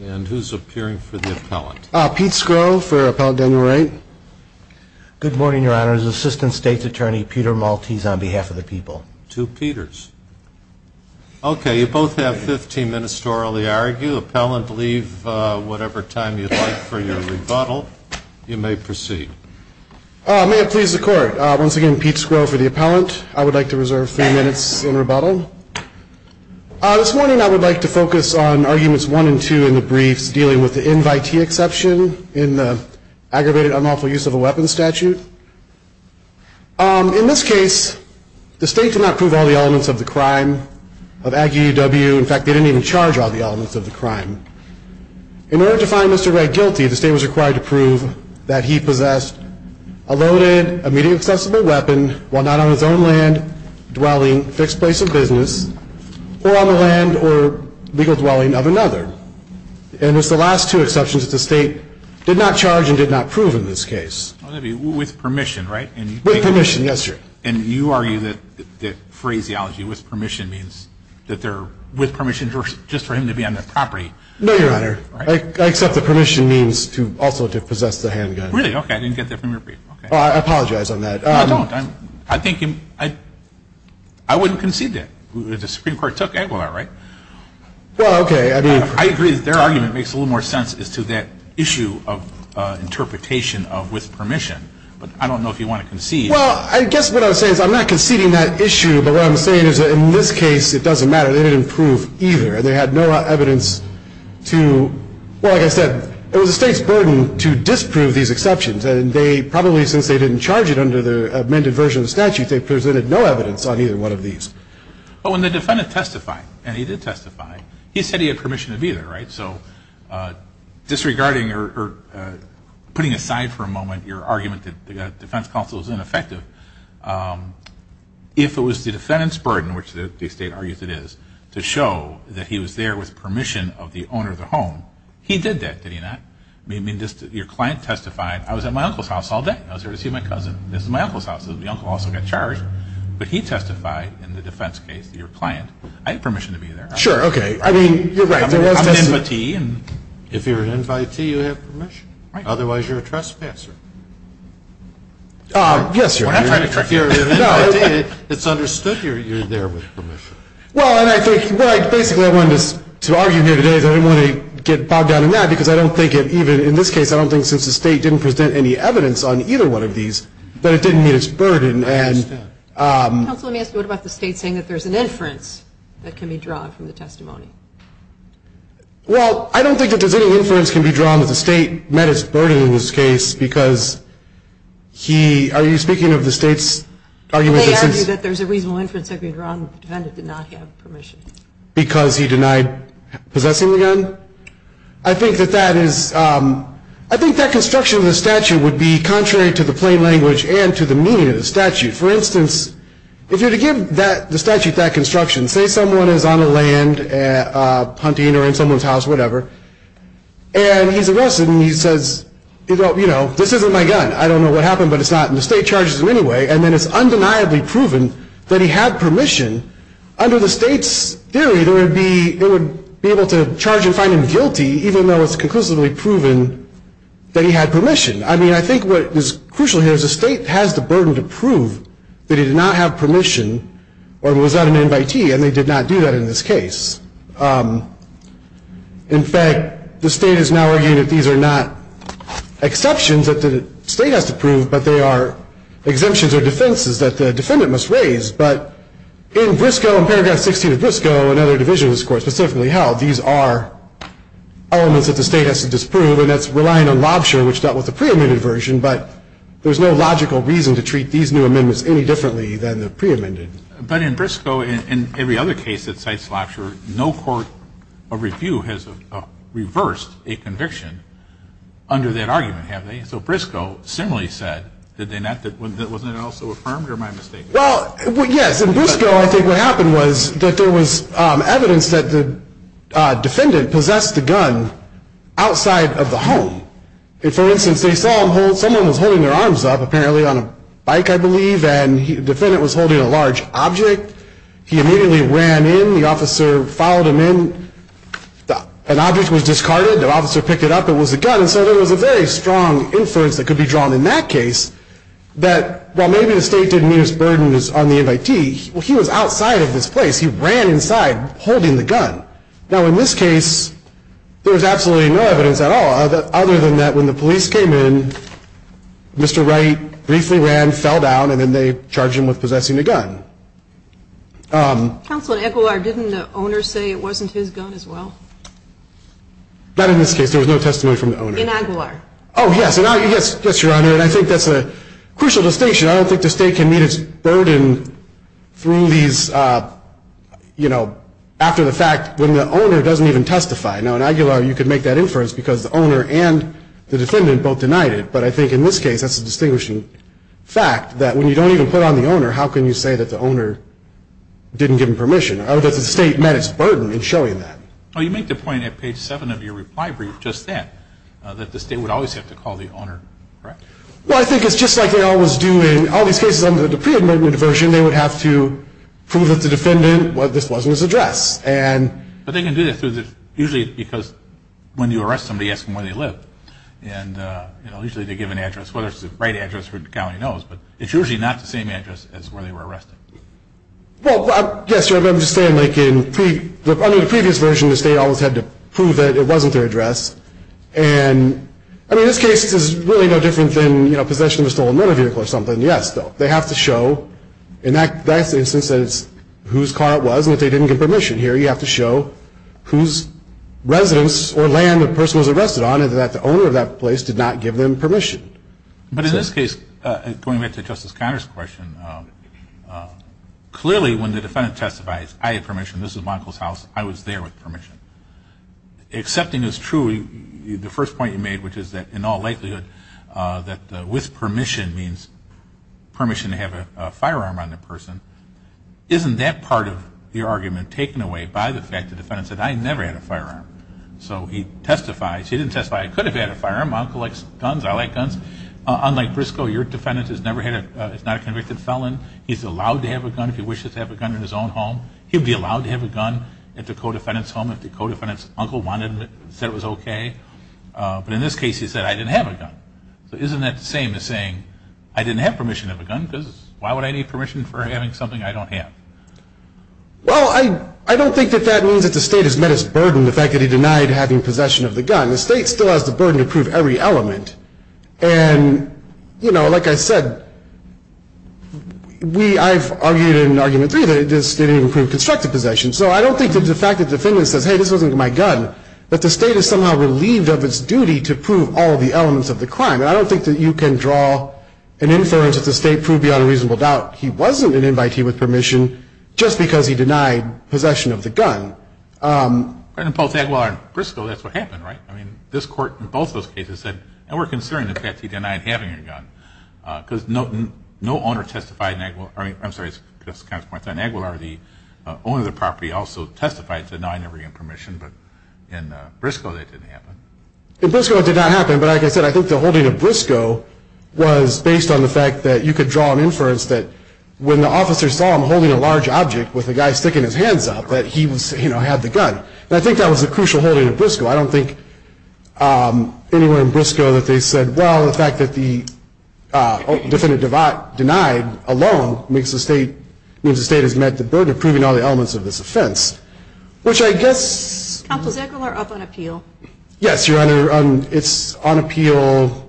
And who's appearing for the appellant? Pete Skro, for Appellant Daniel Wright. Good morning, Your Honors. Assistant State's Attorney Peter Maltese on behalf of the people. To Peters. Okay, you both have 15 minutes to orally argue. Appellant, leave whatever time you'd like for your rebuttal. You may proceed. May it please the court. Once again, Pete Skro for the appellant. I would like to reserve three minutes in rebuttal. This morning I would like to focus on arguments one and two in the briefs dealing with the invitee exception in the aggravated unlawful use of a weapons statute. In this case, the state did not prove all the elements of the crime of Aggie UW. In fact, they didn't even charge all the elements of the crime. In order to find Mr. Wright guilty, the state was required to prove that he possessed a loaded, immediately accessible weapon, while not on his own land, dwelling, fixed place of business, or on the land or legal dwelling of another. And it was the last two exceptions that the state did not charge and did not prove in this case. With permission, right? With permission, yes, Your Honor. And you argue that phraseology, with permission, means that they're with permission just for him to be on their property. No, Your Honor. I accept that permission means also to possess the handgun. Really? Okay. I didn't get that from your brief. I apologize on that. No, don't. I think you – I wouldn't concede that. The Supreme Court took Aguilar, right? Well, okay. I mean – I think that their argument makes a little more sense as to that issue of interpretation of with permission. But I don't know if you want to concede. Well, I guess what I'm saying is I'm not conceding that issue. But what I'm saying is that in this case, it doesn't matter. They didn't prove either. They had no evidence to – well, like I said, it was the state's burden to disprove these exceptions. And they probably, since they didn't charge it under the amended version of the statute, they presented no evidence on either one of these. But when the defendant testified, and he did testify, he said he had permission to be there, right? So disregarding or putting aside for a moment your argument that the defense counsel is ineffective, if it was the defendant's burden, which the state argues it is, to show that he was there with permission of the owner of the home, he did that, did he not? I mean, your client testified, I was at my uncle's house all day. I was there to see my cousin. This is my uncle's house. My uncle also got charged. But he testified in the defense case to your client, I have permission to be there. Sure, okay. I mean, you're right. I'm an invitee. If you're an invitee, you have permission. Right. Otherwise, you're a trespasser. Yes, sir. Well, I'm trying to trick you. If you're an invitee, it's understood you're there with permission. Well, and I think – well, basically, I wanted to argue here today because I didn't want to get bogged down in that because I don't think it even – in this case, I don't think since the state didn't present any evidence on either one of these, but it didn't meet its burden. I understand. Counsel, let me ask you. What about the state saying that there's an inference that can be drawn from the testimony? Well, I don't think that there's any inference can be drawn that the state met its burden in this case because he – are you speaking of the state's argument that since – They argue that there's a reasonable inference that can be drawn that the defendant did not have permission. Because he denied possessing the gun? I think that that is – I think that construction of the statute would be contrary to the plain language and to the meaning of the statute. For instance, if you were to give the statute that construction, say someone is on the land hunting or in someone's house or whatever, and he's arrested and he says, you know, this isn't my gun. I don't know what happened, but it's not. And the state charges him anyway. And then it's undeniably proven that he had permission. Under the state's theory, there would be – they would be able to charge and find him guilty even though it's conclusively proven that he had permission. I mean, I think what is crucial here is the state has the burden to prove that he did not have permission or was not an invitee, and they did not do that in this case. In fact, the state is now arguing that these are not exceptions that the state has to prove, but they are exemptions or defenses that the defendant must raise. But in Briscoe, in Paragraph 16 of Briscoe, another division of this Court specifically held, these are elements that the state has to disprove, and that's relying on Lobsher, which dealt with the preamended version. But there's no logical reason to treat these new amendments any differently than the preamended. But in Briscoe and every other case that cites Lobsher, no court or review has reversed a conviction under that argument, have they? So Briscoe similarly said, did they not – wasn't it also affirmed, or am I mistaken? Well, yes. In Briscoe, I think what happened was that there was evidence that the defendant possessed the gun outside of the home. And for instance, they saw someone was holding their arms up, apparently on a bike, I believe, and the defendant was holding a large object. He immediately ran in. The officer followed him in. An object was discarded. The officer picked it up. It was a gun. And so there was a very strong inference that could be drawn in that case that, while maybe the state didn't meet its burden on the invitee, he was outside of this place. He ran inside holding the gun. Now, in this case, there was absolutely no evidence at all other than that when the police came in, Mr. Wright briefly ran, fell down, and then they charged him with possessing a gun. Counsel, in Aguilar, didn't the owner say it wasn't his gun as well? Not in this case. There was no testimony from the owner. In Aguilar. Oh, yes. Yes, Your Honor. And I think that's a crucial distinction. I don't think the state can meet its burden through these, you know, after the fact, when the owner doesn't even testify. Now, in Aguilar, you could make that inference because the owner and the defendant both denied it. But I think in this case, that's a distinguishing fact, that when you don't even put on the owner, how can you say that the owner didn't give him permission? Or does the state met its burden in showing that? Well, you make the point at page 7 of your reply brief just then, that the state would always have to call the owner, correct? Well, I think it's just like they always do in all these cases under the pre-admitted version. They would have to prove that the defendant, well, this wasn't his address. But they can do that usually because when you arrest somebody, ask them where they live. And, you know, usually they give an address, whether it's the right address, the county knows. But it's usually not the same address as where they were arrested. Well, yes, Your Honor. I'm just saying like in the previous version, the state always had to prove that it wasn't their address. And, I mean, this case is really no different than, you know, possession of a stolen motor vehicle or something. Yes, though. They have to show, in that instance, whose car it was. And if they didn't give permission here, you have to show whose residence or land the person was arrested on and that the owner of that place did not give them permission. But in this case, going back to Justice Conner's question, clearly when the defendant testifies, I have permission, this is my uncle's house, I was there with permission. Accepting as true the first point you made, which is that in all likelihood, that with permission means permission to have a firearm on the person. Isn't that part of your argument taken away by the fact the defendant said, I never had a firearm? So he testifies. He didn't testify, I could have had a firearm. My uncle likes guns, I like guns. Unlike Briscoe, your defendant has never had a, is not a convicted felon. He's allowed to have a gun if he wishes to have a gun in his own home. He would be allowed to have a gun at the co-defendant's home if the co-defendant's uncle wanted him, said it was okay. But in this case, he said, I didn't have a gun. So isn't that the same as saying, I didn't have permission to have a gun, because why would I need permission for having something I don't have? Well, I don't think that that means that the state has met its burden, the fact that he denied having possession of the gun. The state still has the burden to prove every element. And, you know, like I said, we, I've argued in Argument 3 that this didn't even prove constructive possession. So I don't think that the fact that the defendant says, hey, this wasn't my gun, that the state is somehow relieved of its duty to prove all the elements of the crime. And I don't think that you can draw an inference that the state proved beyond a reasonable doubt he wasn't an invitee with permission just because he denied possession of the gun. And in both that law and Briscoe, that's what happened, right? I mean, this court in both those cases said, and we're concerned that he denied having a gun, because no owner testified in Aguilar, I'm sorry, it's just kind of points out, in Aguilar, the owner of the property also testified, said, no, I never gave him permission. But in Briscoe, that didn't happen. In Briscoe, it did not happen. But like I said, I think the holding of Briscoe was based on the fact that you could draw an inference that when the officer saw him holding a large object with a guy sticking his hands up, that he was, you know, had the gun. And I think that was a crucial holding of Briscoe. I don't think anywhere in Briscoe that they said, well, the fact that the defendant denied alone means the state has met the burden of proving all the elements of this offense, which I guess — Counsel, is Aguilar up on appeal? Yes, Your Honor. It's on appeal.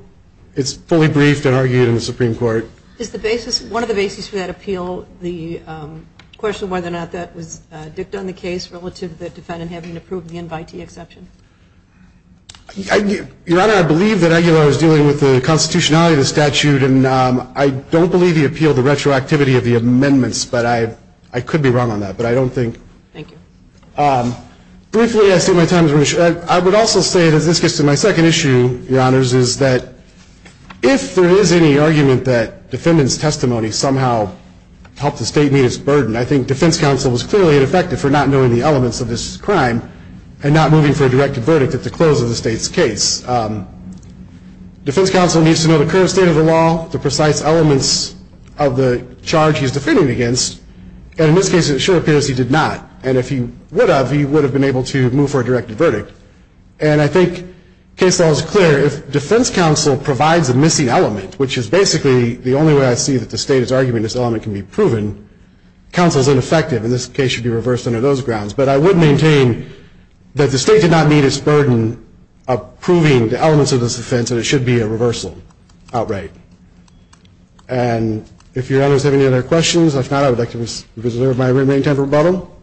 It's fully briefed and argued in the Supreme Court. Is the basis, one of the basis for that appeal the question whether or not that was dicta in the case relative to the defendant having to prove the invitee exception? Your Honor, I believe that Aguilar is dealing with the constitutionality of the statute. And I don't believe he appealed the retroactivity of the amendments. But I could be wrong on that. But I don't think — Thank you. Briefly, I think my time is running short. I would also say, as this gets to my second issue, Your Honors, is that if there is any argument that defendant's testimony somehow helped the state meet its burden, I think defense counsel was clearly ineffective for not knowing the elements of this crime and not moving for a directed verdict at the close of the state's case. Defense counsel needs to know the current state of the law, the precise elements of the charge he's defending against. And in this case, it sure appears he did not. And if he would have, he would have been able to move for a directed verdict. And I think case law is clear. If defense counsel provides a missing element, which is basically the only way I see that the state is arguing this element can be proven, counsel is ineffective. And this case should be reversed under those grounds. But I would maintain that the state did not meet its burden of proving the elements of this offense, and it should be a reversal outright. And if Your Honors have any other questions, if not, I would like to reserve my remaining time for rebuttal.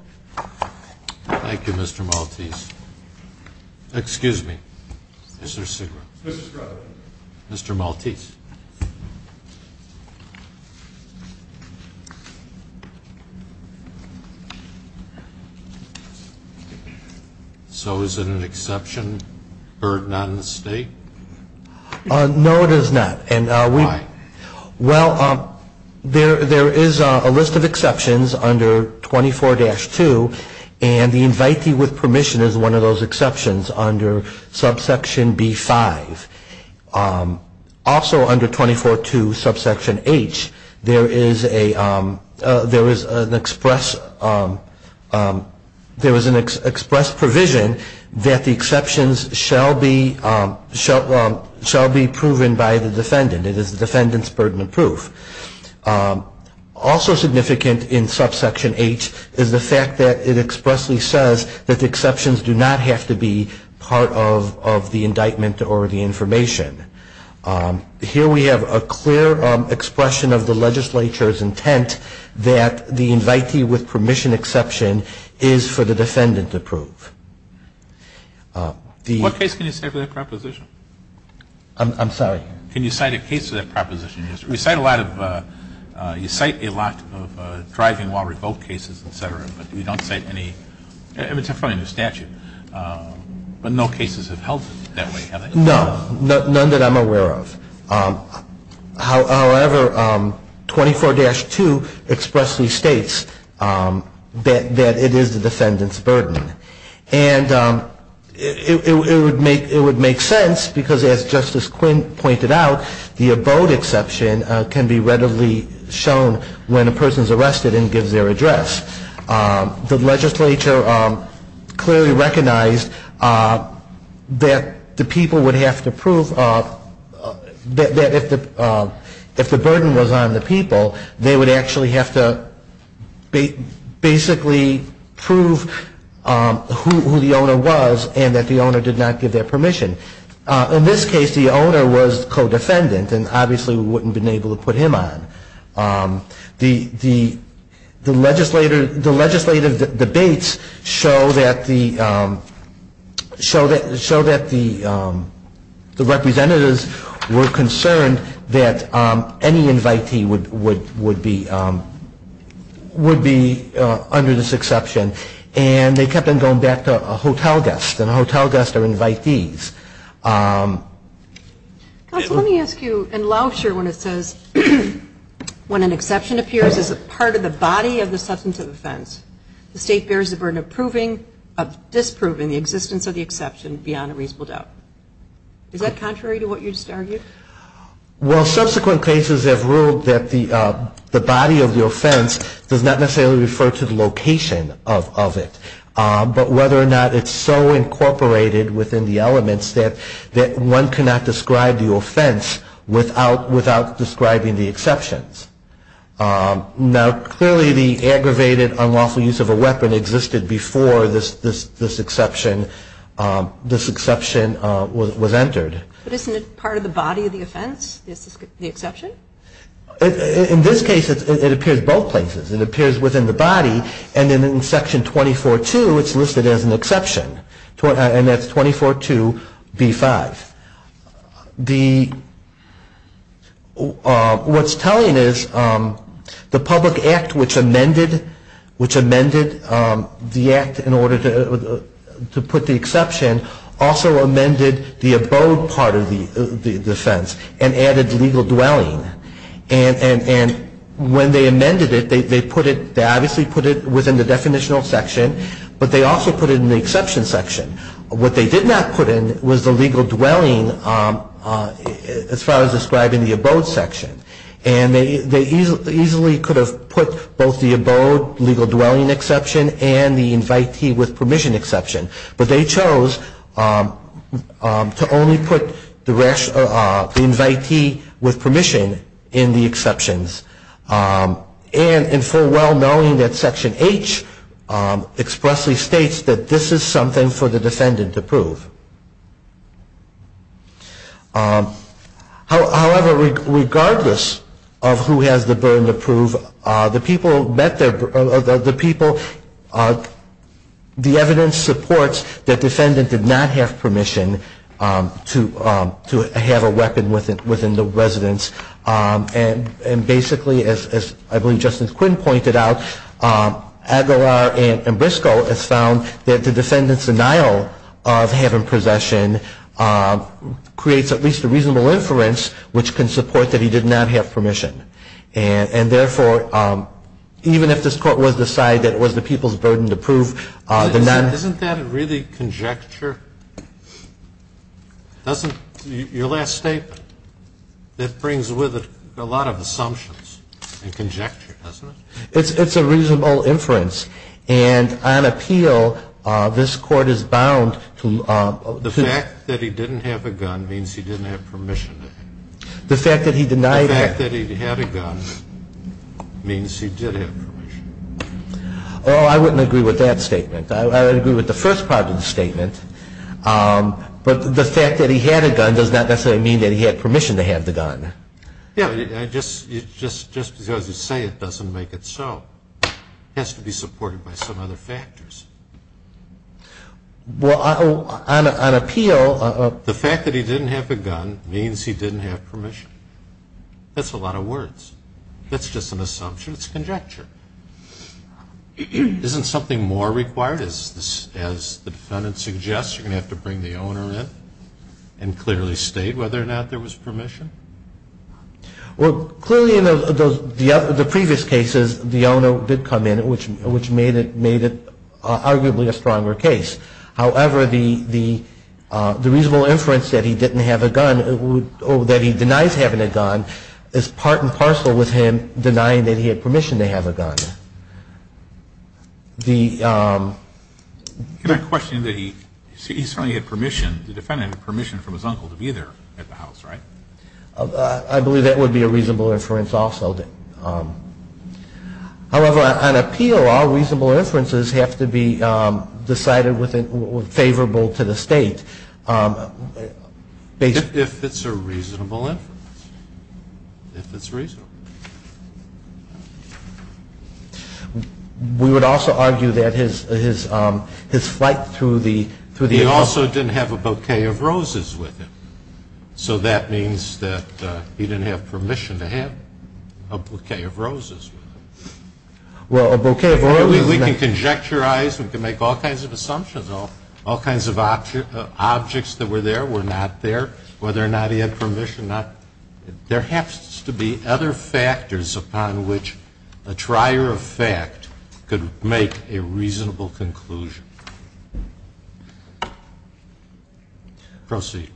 Thank you, Mr. Maltese. Excuse me. Mr. Sigma. Mr. Scruggs. Mr. Maltese. So is it an exception burden on the state? No, it is not. Why? Well, there is a list of exceptions under 24-2, and the invitee with permission is one of those exceptions under subsection B-5. Also under 24-2, subsection H, there is a list of exceptions under 24-3. There is an express provision that the exceptions shall be proven by the defendant. It is the defendant's burden of proof. Also significant in subsection H is the fact that it expressly says that the exceptions do not have to be part of the indictment or the information. Here we have a clear expression of the legislature's intent that the invitee with permission exception is for the defendant to prove. What case can you cite for that proposition? I'm sorry? Can you cite a case for that proposition? You cite a lot of driving while revoked cases, et cetera, but you don't cite any, I mean, it's a front end of statute, but no cases have held it that way, have they? No, none that I'm aware of. However, 24-2 expressly states that it is the defendant's burden. And it would make sense, because as Justice Quinn pointed out, the abode exception can be readily shown when a person is arrested and gives their address. The legislature clearly recognized that the people would have to prove that if the burden was on the people, they would actually have to basically prove who the owner was and that the owner did not give their permission. In this case, the owner was the co-defendant, and obviously we wouldn't have been able to put him on. The legislative debates show that the representatives were concerned that any invitee would be under this exception, and they kept on going back to a hotel guest, and a hotel guest are invitees. Counsel, let me ask you, in Lauscher, when it says, when an exception appears as a part of the body of the substance of offense, the state bears the burden of disproving the existence of the exception beyond a reasonable doubt. Is that contrary to what you just argued? Well, subsequent cases have ruled that the body of the offense does not necessarily refer to the location of it, but whether or not it's so incorporated within the elements that one cannot describe the offense without describing the exceptions. Now, clearly the aggravated, unlawful use of a weapon existed before this exception was entered. But isn't it part of the body of the offense, the exception? In this case, it appears both places. It appears within the body, and then in Section 24-2, it's listed as an exception, and that's 24-2B-5. What's telling is the public act which amended the act in order to put the exception also amended the abode part of the offense and added legal dwelling. And when they amended it, they obviously put it within the definitional section, but they also put it in the exception section. What they did not put in was the legal dwelling as far as describing the abode section. And they easily could have put both the abode legal dwelling exception and the invitee with permission exception, but they chose to only put the invitee with permission in the exceptions. And in full well-knowing that Section H expressly states that this is something for the defendant to prove. However, regardless of who has the burden to prove, the evidence supports that the defendant did not have permission to have a weapon within the residence. And basically, as I believe Justice Quinn pointed out, Aguilar and Briscoe have found that the defendant's denial of having possession creates at least a reasonable inference which can support that he did not have permission. And therefore, even if this Court was to decide that it was the people's burden to prove, the none Isn't that really conjecture? Doesn't your last statement, that brings with it a lot of assumptions and conjecture, doesn't it? It's a reasonable inference. And on appeal, this Court is bound to The fact that he didn't have a gun means he didn't have permission. The fact that he denied The fact that he had a gun means he did have permission. Oh, I wouldn't agree with that statement. I would agree with the first part of the statement. But the fact that he had a gun does not necessarily mean that he had permission to have the gun. Just because you say it doesn't make it so. It has to be supported by some other factors. Well, on appeal The fact that he didn't have a gun means he didn't have permission. That's a lot of words. That's just an assumption. It's conjecture. Isn't something more required? As the defendant suggests, you're going to have to bring the owner in and clearly state whether or not there was permission? Well, clearly in the previous cases, the owner did come in, which made it arguably a stronger case. However, the reasonable inference that he didn't have a gun or that he denies having a gun is part and parcel with him denying that he had permission to have a gun. Can I question that the defendant had permission from his uncle to be there at the house, right? I believe that would be a reasonable inference also. However, on appeal, all reasonable inferences have to be decided favorable to the state. If it's a reasonable inference. If it's reasonable. We would also argue that his flight through the airport He also didn't have a bouquet of roses with him. So that means that he didn't have permission to have a bouquet of roses. Well, a bouquet of roses We can conjecturize, we can make all kinds of assumptions. All kinds of objects that were there were not there. Whether or not he had permission, not There have to be other factors upon which a trier of fact could make a reasonable conclusion. Proceed.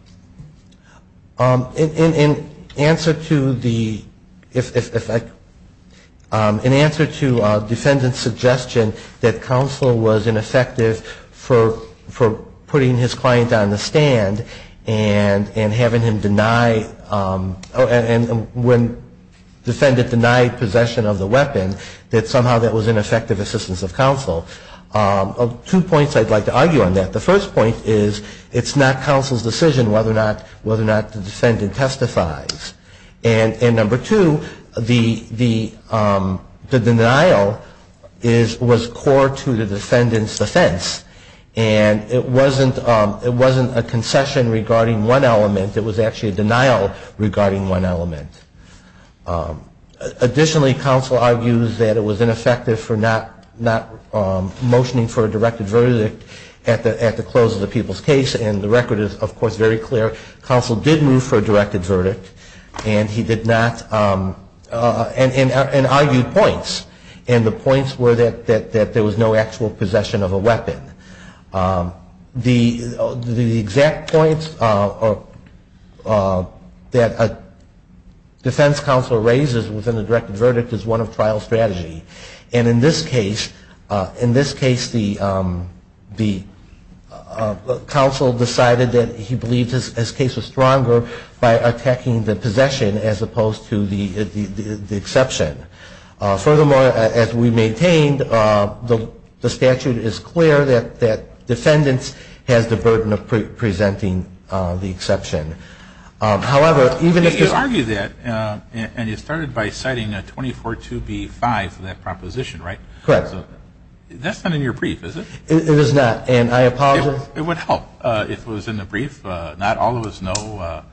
In answer to the In answer to defendant's suggestion that counsel was ineffective for putting his client on the stand And having him deny When defendant denied possession of the weapon, that somehow that was ineffective assistance of counsel. Two points I'd like to argue on that. The first point is it's not counsel's decision whether or not the defendant testifies. And number two, the denial was core to the defendant's defense. And it wasn't a concession regarding one element. It was actually a denial regarding one element. Additionally, counsel argues that it was ineffective for not motioning for a directed verdict at the close of the people's case. And the record is, of course, very clear. Counsel did move for a directed verdict. And he did not And argued points. And the points were that there was no actual possession of a weapon. The exact points that a defense counsel raises within a directed verdict is one of trial strategy. And in this case, the Counsel decided that he believed his case was stronger by attacking the possession as opposed to the exception. Furthermore, as we maintained, the statute is clear that defendants has the burden of presenting the exception. However, even if You argued that, and you started by citing a 24-2B-5 for that proposition, right? Correct. That's not in your brief, is it? It is not. And I apologize. It would help if it was in the brief. Not all of us know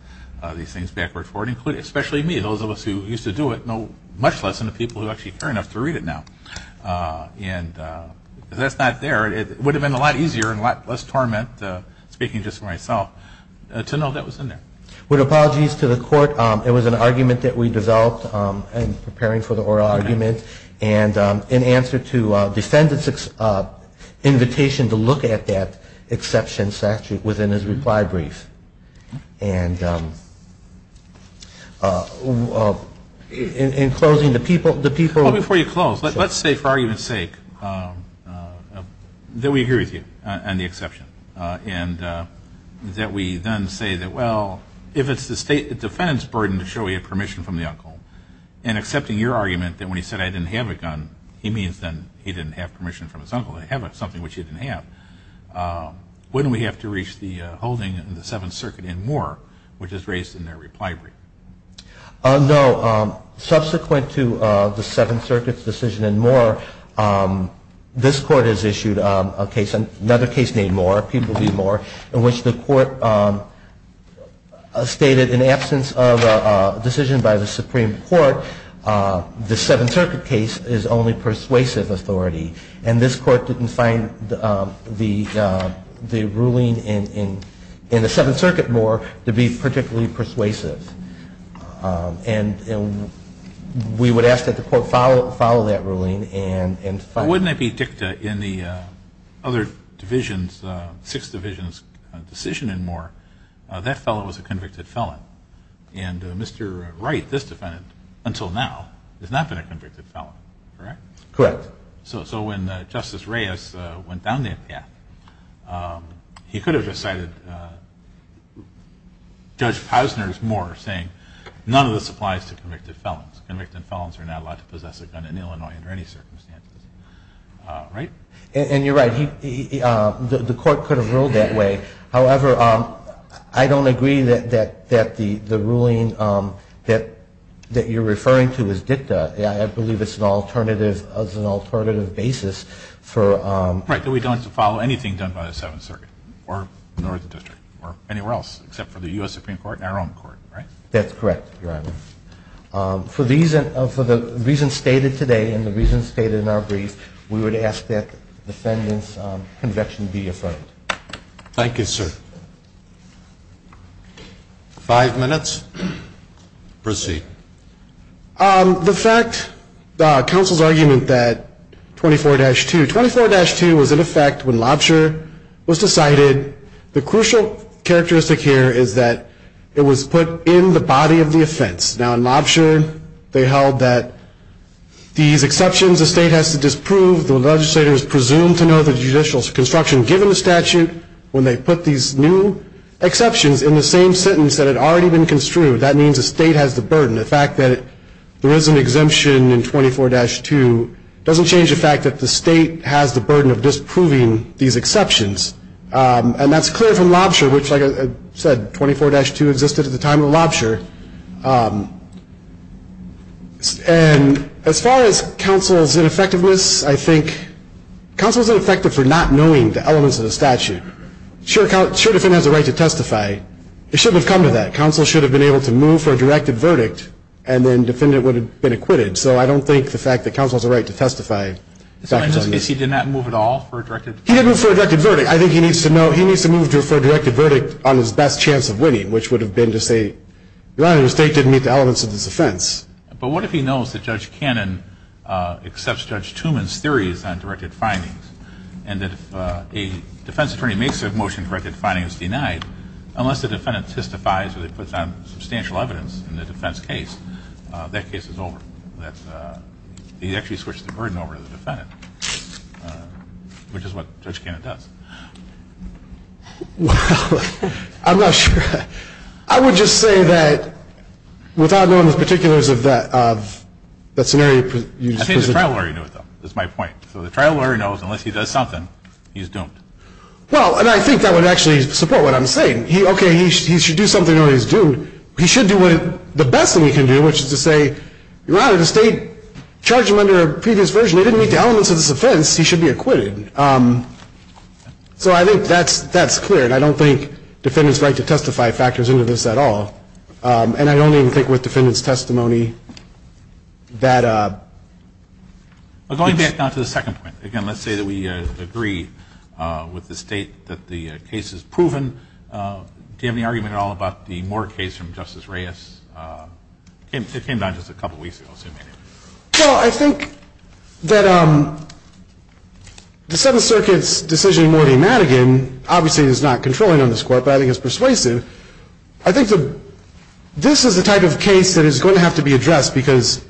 these things backward forward, especially me. Those of us who used to do it know much less than the people who actually care enough to read it now. And if that's not there, it would have been a lot easier and a lot less torment, speaking just for myself, to know that was in there. With apologies to the court, it was an argument that we developed in preparing for the oral argument. And in answer to defendants' invitation to look at that exception statute within his reply brief. And in closing, the people Before you close, let's say for argument's sake that we agree with you on the exception. And that we then say that, well, if it's the defendant's burden to show you permission from the uncle, and accepting your argument that when he said, I didn't have a gun, he means then he didn't have permission from his uncle to have something which he didn't have. Wouldn't we have to reach the holding in the Seventh Circuit in Moore, which is raised in their reply brief? No. Subsequent to the Seventh Circuit's decision in Moore, this Court has issued another case named Moore, in which the Court stated in absence of a decision by the Supreme Court, the Seventh Circuit case is only persuasive authority. And this Court didn't find the ruling in the Seventh Circuit, Moore, to be particularly persuasive. And we would ask that the Court follow that ruling. But wouldn't it be dicta in the other divisions, Sixth Division's decision in Moore, that felon was a convicted felon? And Mr. Wright, this defendant, until now, has not been a convicted felon, correct? Correct. So when Justice Reyes went down that path, he could have recited Judge Posner's Moore saying, none of this applies to convicted felons. Convicted felons are not allowed to possess a gun in Illinois under any circumstances. Right? And you're right. The Court could have ruled that way. However, I don't agree that the ruling that you're referring to is dicta. I believe it's an alternative basis for... Right, that we don't have to follow anything done by the Seventh Circuit, or the district, or anywhere else, except for the U.S. Supreme Court and our own court, right? That's correct, Your Honor. For the reasons stated today and the reasons stated in our brief, we would ask that the defendant's conviction be affirmed. Thank you, sir. Five minutes. Proceed. The fact, counsel's argument that 24-2, 24-2 was in effect when lobster was decided. The crucial characteristic here is that it was put in the body of the offense. Now, in lobster, they held that these exceptions the state has to disprove, the legislator is presumed to know the judicial construction given the statute. When they put these new exceptions in the same sentence that had already been construed, that means the state has the burden. The fact that there is an exemption in 24-2 doesn't change the fact that the state has the burden of disproving these exceptions. And that's clear from lobster, which, like I said, 24-2 existed at the time of the lobster. And as far as counsel's ineffectiveness, I think counsel's ineffective for not knowing the elements of the statute. Sure, the defendant has a right to testify. It shouldn't have come to that. Counsel should have been able to move for a directed verdict, and then defendant would have been acquitted. So I don't think the fact that counsel has a right to testify. So in this case, he did not move at all for a directed verdict? He didn't move for a directed verdict. I think he needs to know, he needs to move for a directed verdict on his best chance of winning, which would have been to say, Your Honor, the state didn't meet the elements of this offense. But what if he knows that Judge Cannon accepts Judge Tooman's theories on directed findings, and that if a defense attorney makes a motion directed findings is denied, unless the defendant testifies or they put down substantial evidence in the defense case, that case is over. He actually switched the burden over to the defendant, which is what Judge Cannon does. Well, I'm not sure. I would just say that without knowing the particulars of that scenario. I think the trial lawyer knows, though. That's my point. So the trial lawyer knows unless he does something, he's doomed. Well, and I think that would actually support what I'm saying. Okay, he should do something or he's doomed. He should do the best thing he can do, which is to say, Your Honor, the state charged him under a previous version. They didn't meet the elements of this offense. He should be acquitted. So I think that's clear. And I don't think defendants' right to testify factors into this at all. And I don't even think with defendants' testimony that it's. Going back down to the second point, again, let's say that we agree with the state that the case is proven. Do you have any argument at all about the Moore case from Justice Reyes? It came down just a couple weeks ago, assuming. Well, I think that the Seventh Circuit's decision in Morty Madigan obviously is not controlling on this court, but I think it's persuasive. I think this is the type of case that is going to have to be addressed because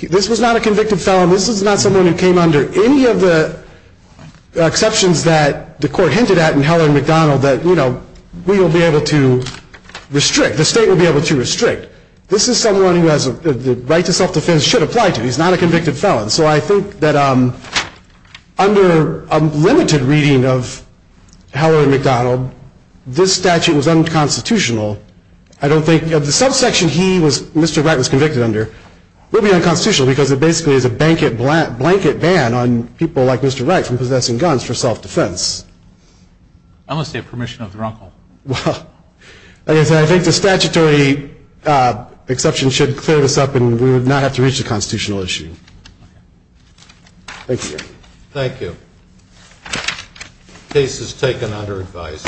this was not a convicted felon. This was not someone who came under any of the exceptions that the court hinted at in Heller and McDonald that we will be able to restrict, the state will be able to restrict. This is someone who the right to self-defense should apply to. He's not a convicted felon. So I think that under a limited reading of Heller and McDonald, this statute was unconstitutional. I don't think the subsection he was, Mr. Wright was convicted under, will be unconstitutional because it basically is a blanket ban on people like Mr. Wright from possessing guns for self-defense. I'm going to say permission of the wrongful. Well, I think the statutory exception should clear this up and we would not have to reach the constitutional issue. Thank you. Thank you. Case is taken under advice.